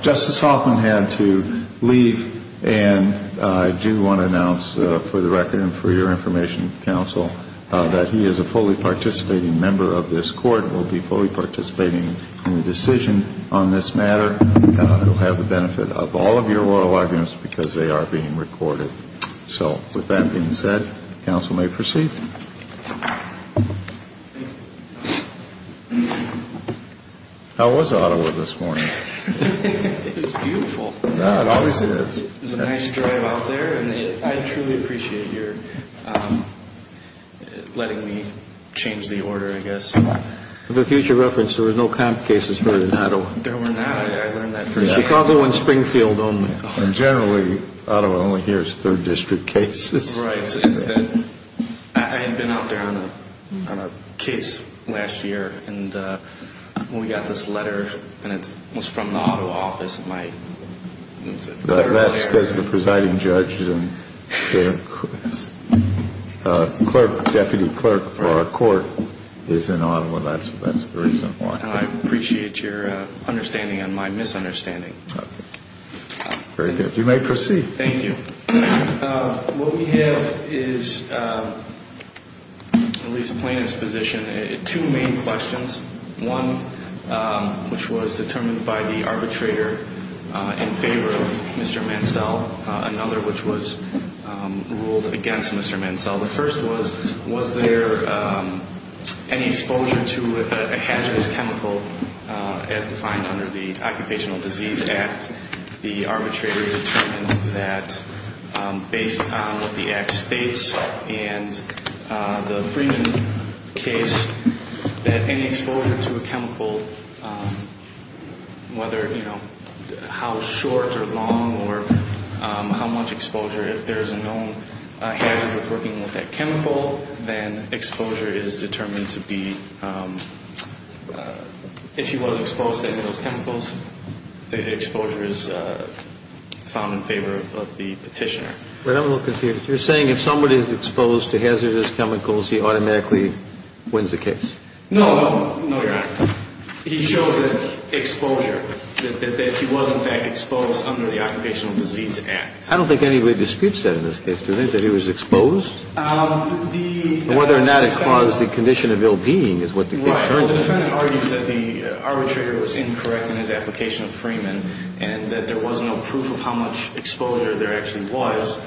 Justice Hoffman had to leave, and I do want to announce for the record and for your information, Counsel, that he is a fully participating member of this Court and will be fully participating in the decision on this matter and will have the benefit of all of your oral arguments because they are being recorded. So, with that being said, Counsel may proceed. How was Ottawa this morning? It was beautiful. It obviously is. It was a nice drive out there, and I truly appreciate your letting me change the order, I guess. For future reference, there were no comp cases heard in Ottawa. There were not. I learned that from Chicago and Springfield only. And generally, Ottawa only hears third district cases. I had been out there on a case last year, and we got this letter, and it was from the Ottawa office. That's because the presiding judge and the deputy clerk for our court is in Ottawa. That's the reason why. And I appreciate your understanding and my misunderstanding. Very good. You may proceed. Thank you. What we have is at least a plaintiff's position. Two main questions. One, which was determined by the arbitrator in favor of Mr. Mansell. Another, which was ruled against Mr. Mansell. The first was, was there any exposure to a hazardous chemical as defined under the Occupational Disease Act? The arbitrator determined that based on what the Act states and the Freeman case, that any exposure to a chemical, whether, you know, how short or long or how much exposure, if there is a known hazard with working with that chemical, then exposure is determined to be, if he was exposed to any of those chemicals, the exposure is found in favor of the petitioner. But I'm a little confused. You're saying if somebody is exposed to hazardous chemicals, he automatically wins the case? No, no, no, Your Honor. He showed that exposure, that he was in fact exposed under the Occupational Disease Act. I don't think anybody disputes that in this case. Do you think that he was exposed? Whether or not it caused the condition of ill-being is what the case turns to. Right. Well, the defendant argues that the arbitrator was incorrect in his application of Freeman and that there was no proof of how much exposure there actually was.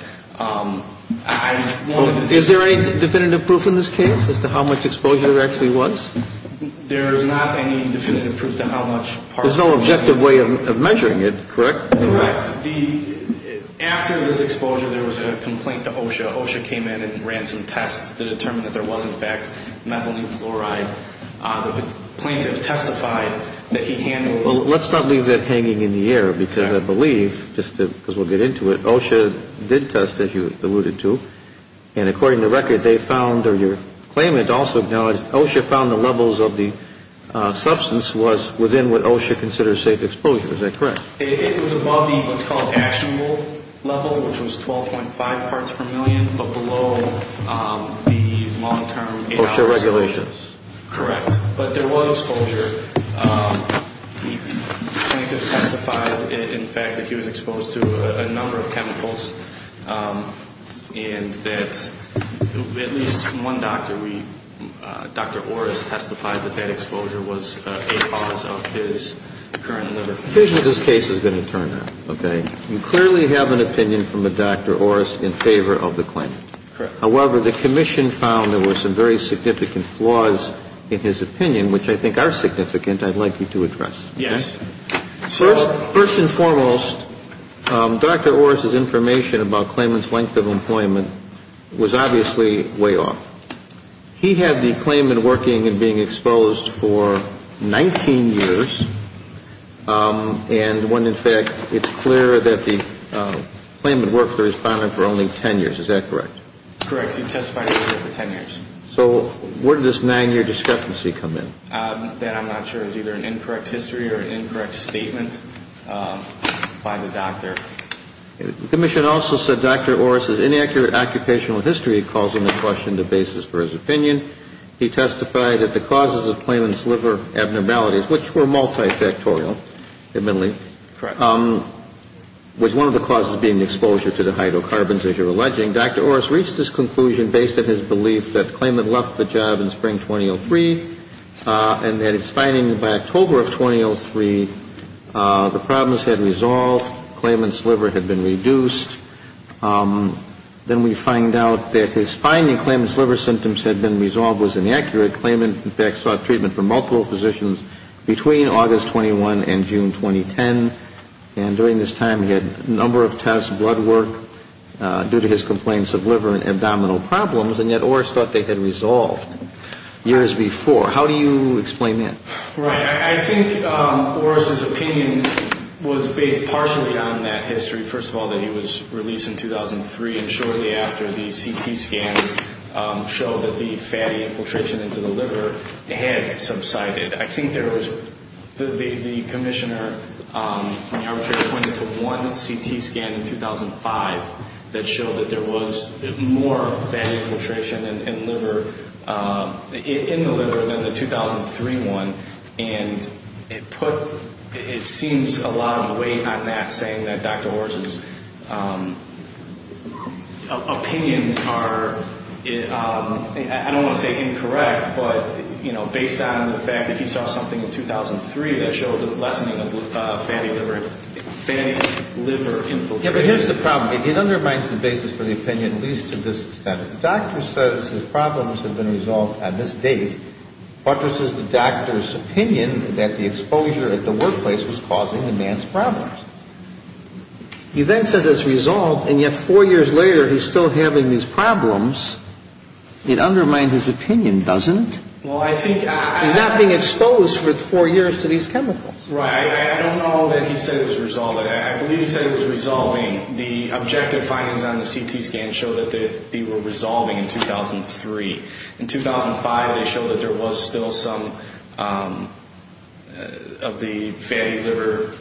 Is there any definitive proof in this case as to how much exposure there actually was? There is not any definitive proof to how much part of it was. There's no objective way of measuring it, correct? Correct. After this exposure, there was a complaint to OSHA. OSHA came in and ran some tests to determine that there was, in fact, methylene fluoride. The plaintiff testified that he handled it. Well, let's not leave that hanging in the air because I believe, just because we'll get into it, OSHA did test, as you alluded to, and according to record, they found, or your claimant also acknowledged, OSHA found the levels of the substance was within what OSHA considers safe exposure. Is that correct? It was above the what's called actionable level, which was 12.5 parts per million, but below the long-term. OSHA regulations. Correct. But there was exposure. The plaintiff testified, in fact, that he was exposed to a number of chemicals and that at least one doctor, Dr. Orris, testified that that exposure was a cause of his current liver condition. The conclusion of this case is going to turn out, okay? You clearly have an opinion from a Dr. Orris in favor of the claimant. Correct. However, the commission found there were some very significant flaws in his opinion, which I think are significant I'd like you to address. Yes. First and foremost, Dr. Orris' information about claimant's length of employment was obviously way off. He had the claimant working and being exposed for 19 years, and when, in fact, it's clear that the claimant worked for the respondent for only 10 years. Is that correct? Correct. He testified for 10 years. So where did this nine-year discrepancy come in? That I'm not sure is either an incorrect history or an incorrect statement by the doctor. The commission also said Dr. Orris' inaccurate occupational history caused him to question the basis for his opinion. He testified that the causes of claimant's liver abnormalities, which were multifactorial, admittedly, was one of the causes being the exposure to the hydrocarbons, as you're alleging. Dr. Orris reached this conclusion based on his belief that the claimant left the job in spring 2003 and that his finding by October of 2003, the problems had resolved, claimant's liver had been reduced. Then we find out that his finding claimant's liver symptoms had been resolved was inaccurate. Claimant, in fact, sought treatment for multiple positions between August 21 and June 2010, and during this time he had a number of tests, blood work due to his complaints of liver and abdominal problems, and yet Orris thought they had resolved years before. How do you explain that? Right. I think Orris' opinion was based partially on that history, first of all, that he was released in 2003, and shortly after the CT scans showed that the fatty infiltration into the liver had subsided. I think there was the commissioner pointed to one CT scan in 2005 that showed that there was more fatty infiltration in the liver than the 2003 one, and it seems a lot of weight on that, saying that Dr. Orris' opinions are, I don't want to say incorrect, but, you know, based on the fact that he saw something in 2003 that showed the lessening of fatty liver infiltration. Yeah, but here's the problem. It undermines the basis for the opinion at least to this extent. The doctor says his problems have been resolved on this date, but this is the doctor's opinion that the exposure at the workplace was causing the man's problems. He then says it's resolved, and yet four years later he's still having these problems. It undermines his opinion, doesn't it? Well, I think I... He's not being exposed for four years to these chemicals. Right. I don't know that he said it was resolved. I believe he said it was resolving. The objective findings on the CT scans show that they were resolving in 2003. In 2005 they showed that there was still some of the fatty liver,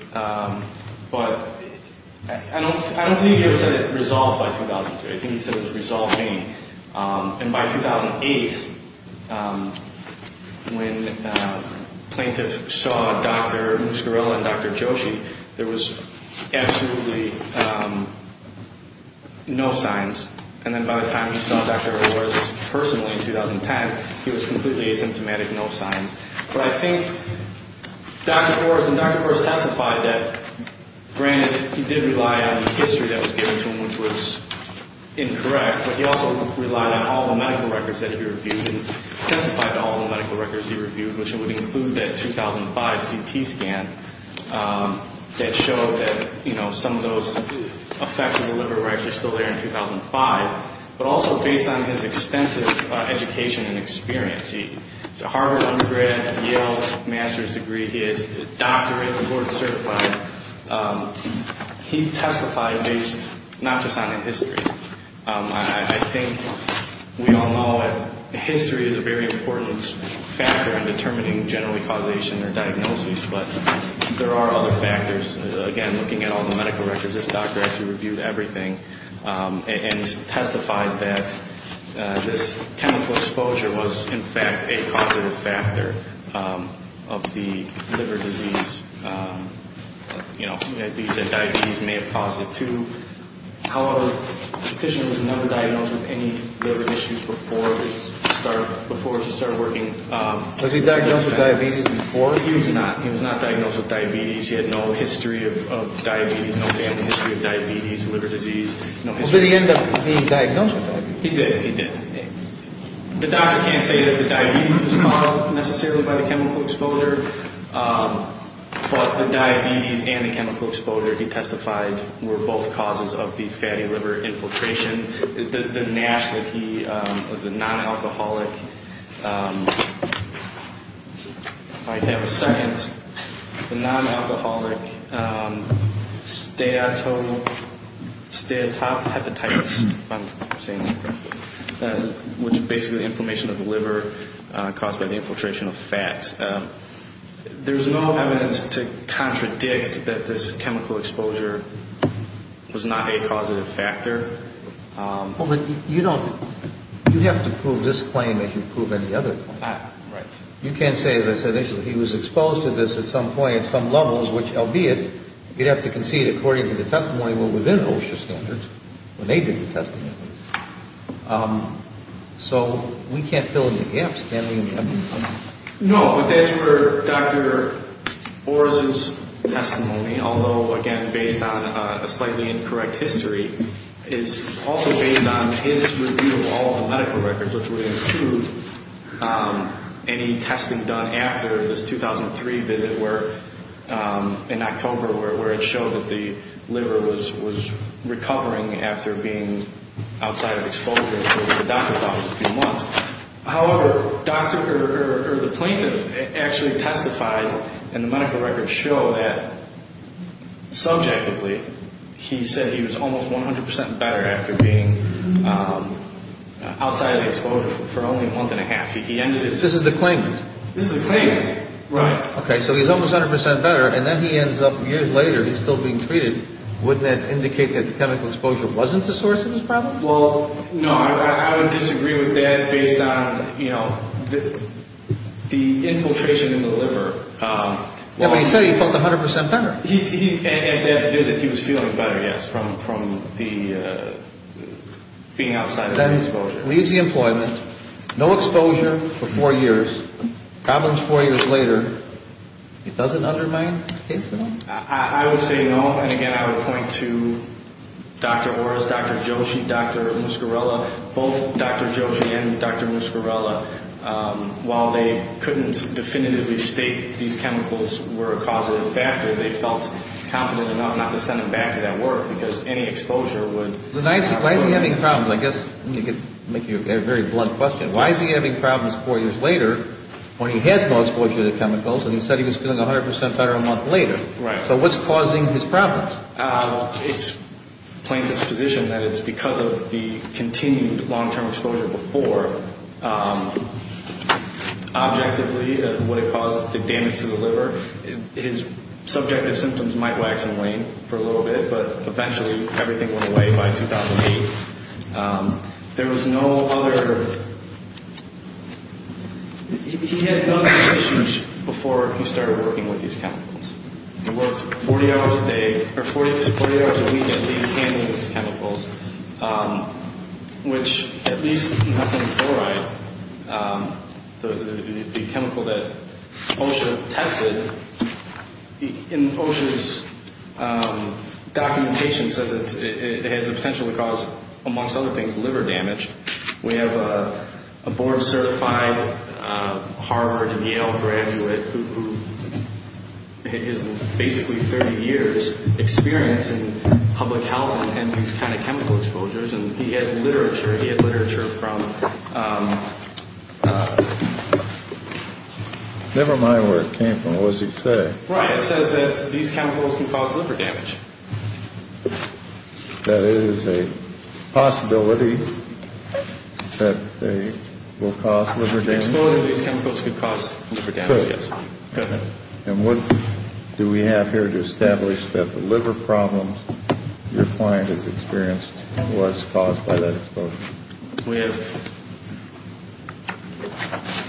but I don't think he ever said it resolved by 2003. I think he said it was resolving. And by 2008, when plaintiffs saw Dr. Muscarello and Dr. Joshi, there was absolutely no signs. And then by the time he saw Dr. Horace personally in 2010, he was completely asymptomatic, no signs. But I think Dr. Horace testified that, granted, he did rely on the history that was given to him, which was incorrect, but he also relied on all the medical records that he reviewed and testified to all the medical records he reviewed, which would include that 2005 CT scan that showed that, you know, some of those effects of the liver were actually still there in 2005, but also based on his extensive education and experience. He has a Harvard undergrad, Yale master's degree. He has a doctorate and board certified. He testified based not just on the history. I think we all know that history is a very important factor in determining generally causation or diagnosis, but there are other factors. Again, looking at all the medical records, this doctor actually reviewed everything and he testified that this chemical exposure was, in fact, a causative factor of the liver disease. You know, he said diabetes may have caused it too. However, the petitioner was never diagnosed with any liver issues before he started working. Was he diagnosed with diabetes before? He was not. He was not diagnosed with diabetes. He had no history of diabetes, no family history of diabetes, liver disease, no history. Did he end up being diagnosed with diabetes? He did. He did. The doctor can't say that the diabetes was caused necessarily by the chemical exposure, but the diabetes and the chemical exposure, he testified, were both causes of the fatty liver infiltration. The NASH that he, or the non-alcoholic, if I have a second, the non-alcoholic steatohepatitis, if I'm saying this correctly, which is basically inflammation of the liver caused by the infiltration of fat, there's no evidence to contradict that this chemical exposure was not a causative factor. Well, but you don't, you'd have to prove this claim if you prove any other claim. Right. You can't say, as I said initially, he was exposed to this at some point at some levels, which, albeit, you'd have to concede according to the testimony within OSHA standards, when they did the testing at least. So we can't fill in the gaps, can we, in the evidence? No, but that's where Dr. Borges' testimony, although, again, based on a slightly incorrect history, is also based on his review of all the medical records, which would include any testing done after this 2003 visit, where, in October, where it showed that the liver was recovering after being outside of exposure to the doctor for a few months. However, doctor, or the plaintiff, actually testified, and the medical records show that, subjectively, he said he was almost 100 percent better after being outside of the exposure for only a month and a half. He ended his... This is the claimant? This is the claimant, right. Okay, so he's almost 100 percent better, and then he ends up, years later, he's still being treated. Wouldn't that indicate that the chemical exposure wasn't the source of his problem? Well, no, I would disagree with that, based on, you know, the infiltration in the liver. Yeah, but he said he felt 100 percent better. And that did, that he was feeling better, yes, from the being outside of the exposure. So, leaves the employment, no exposure for four years, problems four years later, it doesn't undermine his case at all? I would say no, and, again, I would point to Dr. Orris, Dr. Joshi, Dr. Muscarella, both Dr. Joshi and Dr. Muscarella. While they couldn't definitively state these chemicals were a causative factor, they felt confident enough not to send them back to that ward, because any exposure would... Why is he having problems? I guess, let me make you a very blunt question. Why is he having problems four years later, when he has no exposure to the chemicals, and he said he was feeling 100 percent better a month later? Right. So what's causing his problems? It's plaintiff's position that it's because of the continued long-term exposure before. Objectively, what it caused, the damage to the liver, his subjective symptoms might wax and wane for a little bit, but, eventually, everything went away by 2008. There was no other... He had no other issues before he started working with these chemicals. He worked 40 hours a day, or 40 hours a week, at least, handling these chemicals, which, at least handling chloride, the chemical that OSHA tested, in OSHA's documentation says it has the potential to cause, amongst other things, liver damage. We have a board-certified Harvard and Yale graduate who has basically 30 years' experience in public health handling these kind of chemical exposures, and he has literature. He had literature from... Never mind where it came from. What does it say? Right. It says that these chemicals can cause liver damage. That it is a possibility that they will cause liver damage? Could. Could. And what do we have here to establish that the liver problems your client has experienced was caused by that exposure? We have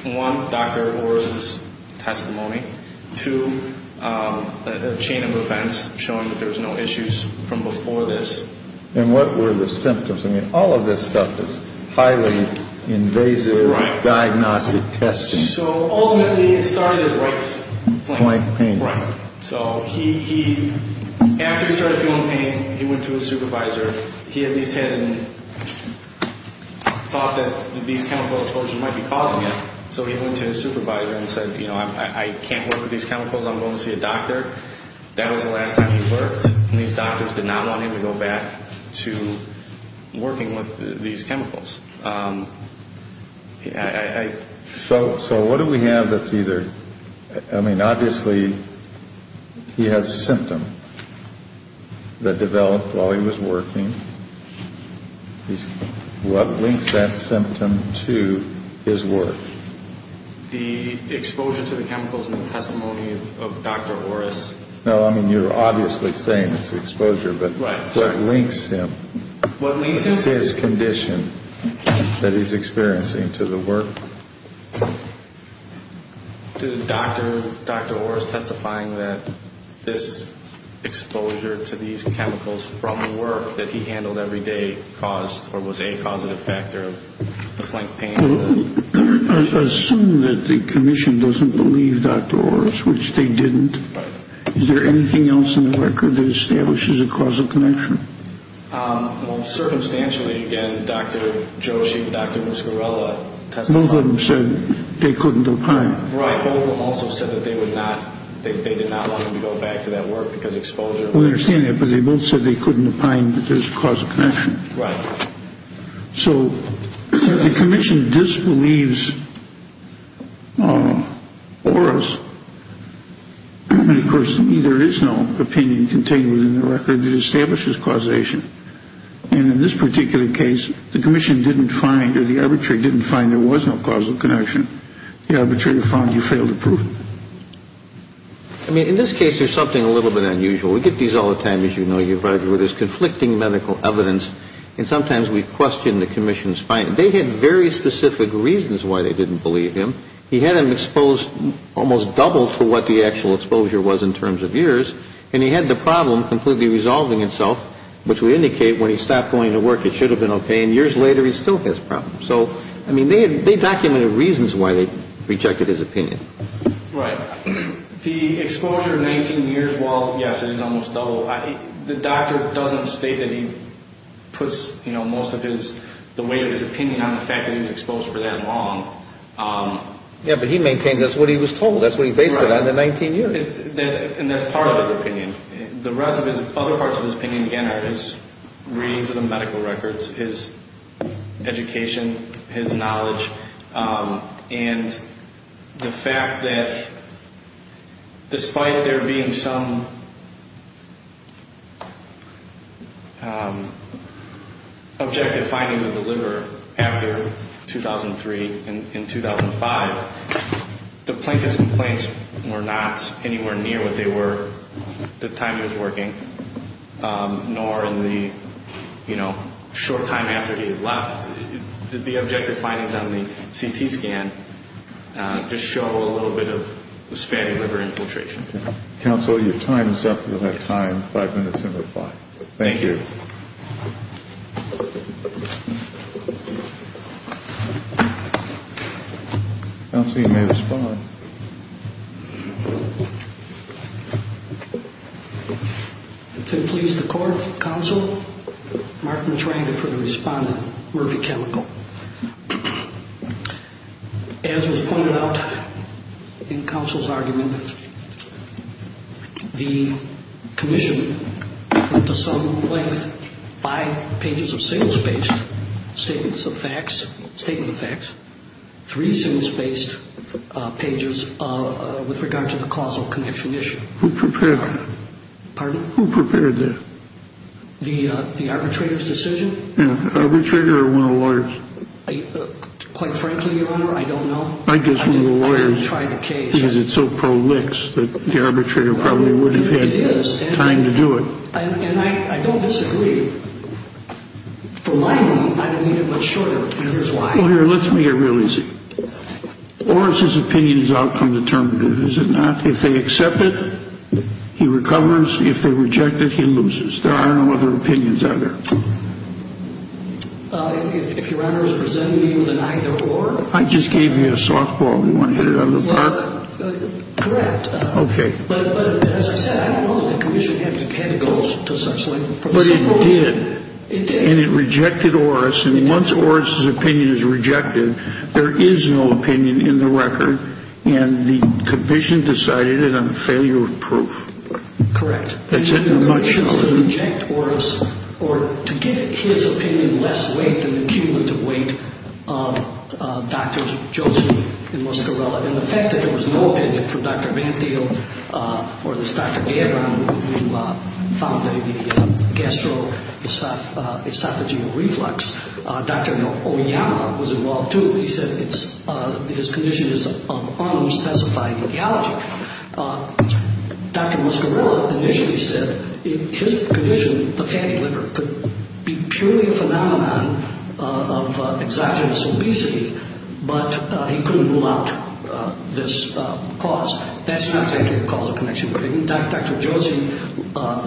one, Dr. Orr's testimony. Two, a chain of events showing that there was no issues from before this. And what were the symptoms? I mean, all of this stuff is highly invasive diagnostic testing. So ultimately, it started as right pain. Right pain. Right. So he, after he started feeling pain, he went to his supervisor. He at least had thought that these chemical exposures might be causing it, so he went to his supervisor and said, you know, I can't work with these chemicals. I'm going to see a doctor. That was the last time he worked, and these doctors did not want him to go back to working with these chemicals. So what do we have that's either, I mean, obviously he has a symptom that developed while he was working. What links that symptom to his work? The exposure to the chemicals in the testimony of Dr. Orr's. No, I mean, you're obviously saying it's exposure, but what links him? What links him? What is his condition that he's experiencing to the work? The doctor, Dr. Orr's testifying that this exposure to these chemicals from work that he handled every day caused or was a causative factor of the flank pain. Assume that the commission doesn't believe Dr. Orr's, which they didn't. Is there anything else in the record that establishes a causal connection? Well, circumstantially, again, Dr. Joshi, Dr. Muscarella testified. Both of them said they couldn't opine. Right. Both of them also said that they did not want him to go back to that work because exposure. We understand that, but they both said they couldn't opine that there's a causal connection. Right. So if the commission disbelieves Orr's, then, of course, there is no opinion contained within the record that establishes causation. And in this particular case, the commission didn't find or the arbitrator didn't find there was no causal connection. The arbitrator found you failed to prove it. I mean, in this case, there's something a little bit unusual. We get these all the time, as you know. There's conflicting medical evidence, and sometimes we question the commission's finding. They had very specific reasons why they didn't believe him. He had him exposed almost double to what the actual exposure was in terms of years, and he had the problem completely resolving itself, which would indicate when he stopped going to work, it should have been okay. And years later, he still has problems. So, I mean, they documented reasons why they rejected his opinion. Right. The exposure of 19 years, while, yes, it is almost double, the doctor doesn't state that he puts most of the weight of his opinion on the fact that he was exposed for that long. Yeah, but he maintains that's what he was told. That's what he based it on, the 19 years. And that's part of his opinion. The rest of his other parts of his opinion, again, are his readings of the medical records, his education, his knowledge, and the fact that despite there being some objective findings of the liver after 2003 and 2005, the plaintiff's complaints were not anywhere near what they were at the time he was working, nor in the, you know, short time after he had left. Did the objective findings on the CT scan just show a little bit of this fatty liver infiltration? Counsel, your time is up. You'll have time, five minutes to reply. Thank you. Counsel, you may respond. If it pleases the court, counsel, Martin Trande for the respondent, Murphy Chemical. As was pointed out in counsel's argument, the commission went to some length by pages of single-spaced statements of facts, three single-spaced pages with regard to the causal connection issue. Who prepared that? Pardon? Who prepared that? The arbitrator's decision? Yeah, arbitrator or one of the lawyers? Quite frankly, Your Honor, I don't know. I guess one of the lawyers. I didn't try the case. Because it's so prolix that the arbitrator probably wouldn't have had time to do it. And I don't disagree. From my point of view, I don't need it much shorter. And here's why. Well, here, let's make it real easy. Or is his opinion's outcome determinative? Is it not? If they accept it, he recovers. If they reject it, he loses. There are no other opinions out there. If Your Honor is presenting either or? I just gave you a softball. You want to hit it out of the park? Correct. Okay. But as I said, I don't know that the commission had to go to such length. But it did. It did. And it rejected Oris. And once Oris's opinion is rejected, there is no opinion in the record. And the commission decided it on the failure of proof. Correct. And the commission has to reject Oris or to give his opinion less weight than the cumulative weight of Drs. Joseph and Muscarella. And the fact that there was no opinion from Dr. Van Thiel or this Dr. Gabon who founded the gastroesophageal reflux, Dr. Oyama was involved, too. He said his condition is of unspecified etiology. Dr. Muscarella initially said his condition, the fatty liver, could be purely a phenomenon of exogenous obesity, but he couldn't rule out this cause. That's not exactly the causal connection. But, in fact, Dr. Joseph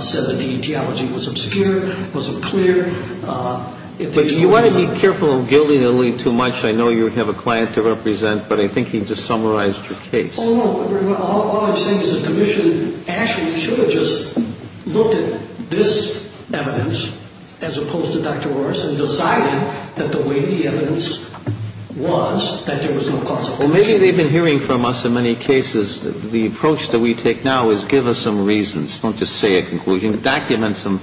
said that the etiology was obscure, was unclear. But you want to be careful of gilding it a little too much. I know you have a client to represent, but I think he just summarized your case. Oh, no. All I'm saying is the commission actually should have just looked at this evidence as opposed to Dr. Oris and decided that the way the evidence was that there was no causal connection. Well, maybe they've been hearing from us in many cases the approach that we take now is give us some reasons. Don't just say a conclusion. Document some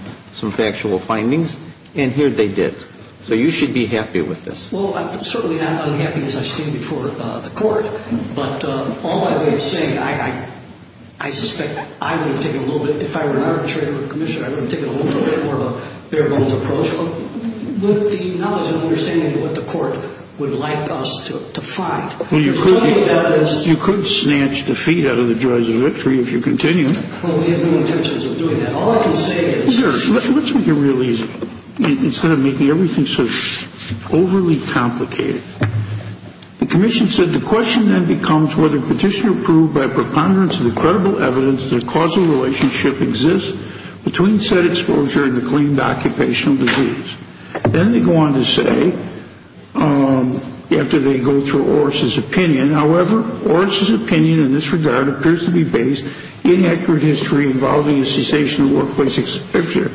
factual findings. And here they did. So you should be happy with this. Well, I'm certainly not unhappy as I stand before the Court. But all I'm saying, I suspect I would have taken a little bit, if I were not a trade with the commissioner, I would have taken a little bit more of a bare bones approach with the knowledge and understanding of what the Court would like us to find. Well, you could snatch defeat out of the joys of victory if you continue. Well, we have no intentions of doing that. All I can say is. Let's make it real easy. Instead of making everything so overly complicated. The commission said the question then becomes whether petition approved by preponderance of the credible evidence that a causal relationship exists between said exposure and the claimed occupational disease. Then they go on to say, after they go through Oris' opinion, however, Oris' opinion in this regard appears to be based in accurate history involving a cessation of workplace exposure.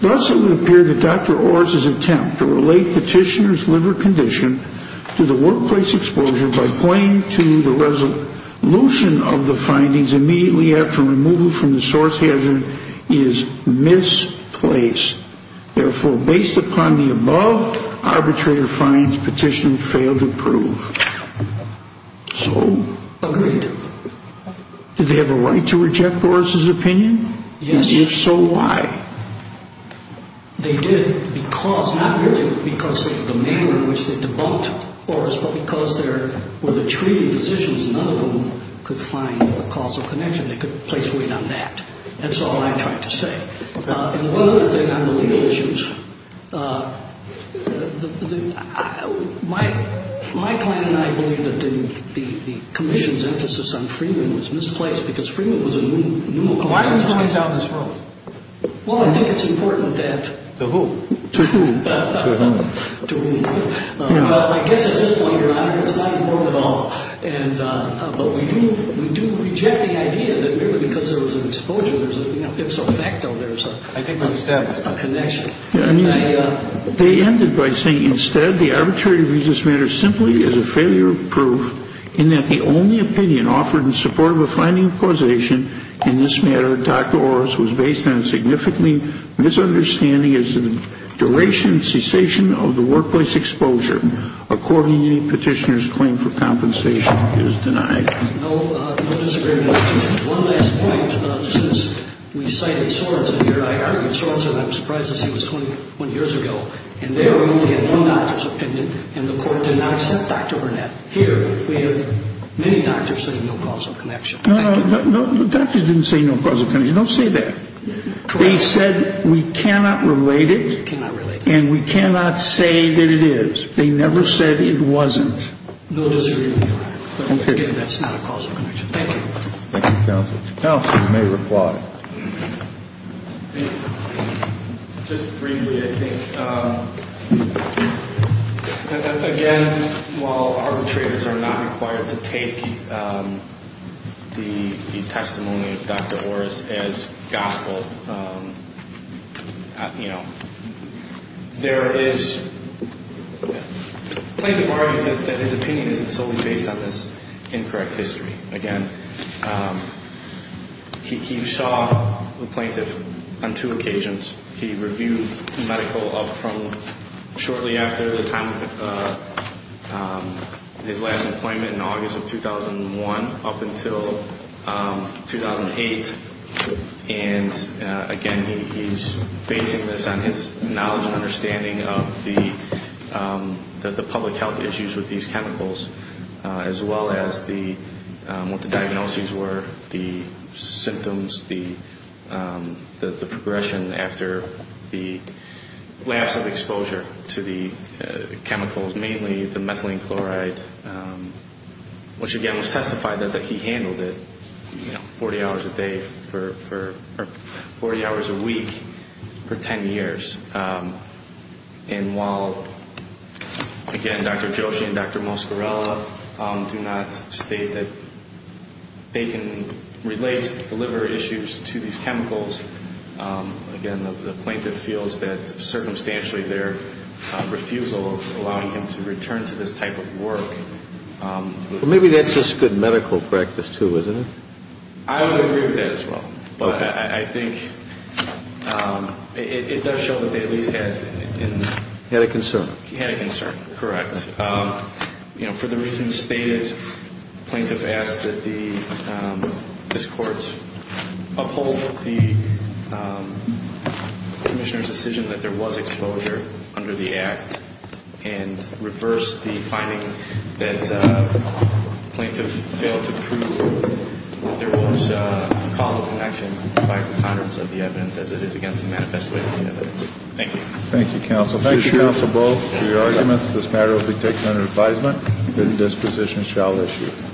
Thus, it would appear that Dr. Oris' attempt to relate petitioner's liver condition to the workplace exposure by pointing to the resolution of the findings immediately after removal from the source hazard is misplaced. Therefore, based upon the above, arbitrator finds petitioner failed to prove. So. Agreed. Did they have a right to reject Oris' opinion? Yes. If so, why? They did because, not merely because of the manner in which they debunked Oris, but because there were the treating physicians. None of them could find a causal connection. They couldn't place weight on that. That's all I'm trying to say. And one other thing on the legal issues. My client and I believe that the commission's emphasis on Freeman was misplaced because Freeman was a new. Well, I think it's important that. To whom? To whom? To whom? Well, I guess at this point, Your Honor, it's not important at all. But we do reject the idea that merely because there was an exposure, there's an ipso facto, there's a. I think we've established. A connection. They ended by saying, instead, the arbitrator views this matter simply as a failure of proof, in that the only opinion offered in support of a finding of causation in this matter, Dr. Oris, was based on a significantly misunderstanding as to the duration and cessation of the workplace exposure. Accordingly, petitioner's claim for compensation is denied. No, no disagreement. Just one last point. Since we cited Sorensen here, I argued Sorensen. I'm surprised to see it was 21 years ago. And they only had one doctor's opinion. And the court did not accept Dr. Burnett. Here, we have many doctors saying no causal connection. No, no. The doctors didn't say no causal connection. Don't say that. They said we cannot relate it. We cannot relate it. And we cannot say that it is. They never said it wasn't. No disagreement, Your Honor. But again, that's not a causal connection. Thank you. Thank you, counsel. Counsel may reply. Just briefly, I think, again, while arbitrators are not required to take the testimony of Dr. Oris as gospel, you know, there is plenty of arguments that his opinion isn't solely based on this incorrect history. Again, he saw the plaintiff on two occasions. He reviewed medical from shortly after the time of his last appointment in August of 2001 up until 2008. And again, he's basing this on his knowledge and understanding of the public health issues with these chemicals, as well as what the diagnoses were, the symptoms, the progression after the lapse of exposure to the chemicals, mainly the methylene chloride, which, again, was testified that he handled it 40 hours a day for 40 hours a week for 10 years. And while, again, Dr. Joshi and Dr. Moscarella do not state that they can relate the liver issues to these chemicals, again, the plaintiff feels that circumstantially their refusal of allowing him to return to this type of work. Well, maybe that's just good medical practice, too, isn't it? But I think it does show that they at least had a concern. Correct. You know, for the reasons stated, the plaintiff asked that this court uphold the commissioner's decision that there was exposure under the act and reverse the finding that the plaintiff failed to prove that there was a call for action by the Congress of the evidence as it is against the manifesto evidence. Thank you. Thank you, counsel. Thank you, counsel, both, for your arguments. This matter will be taken under advisement. Bidding disposition shall issue.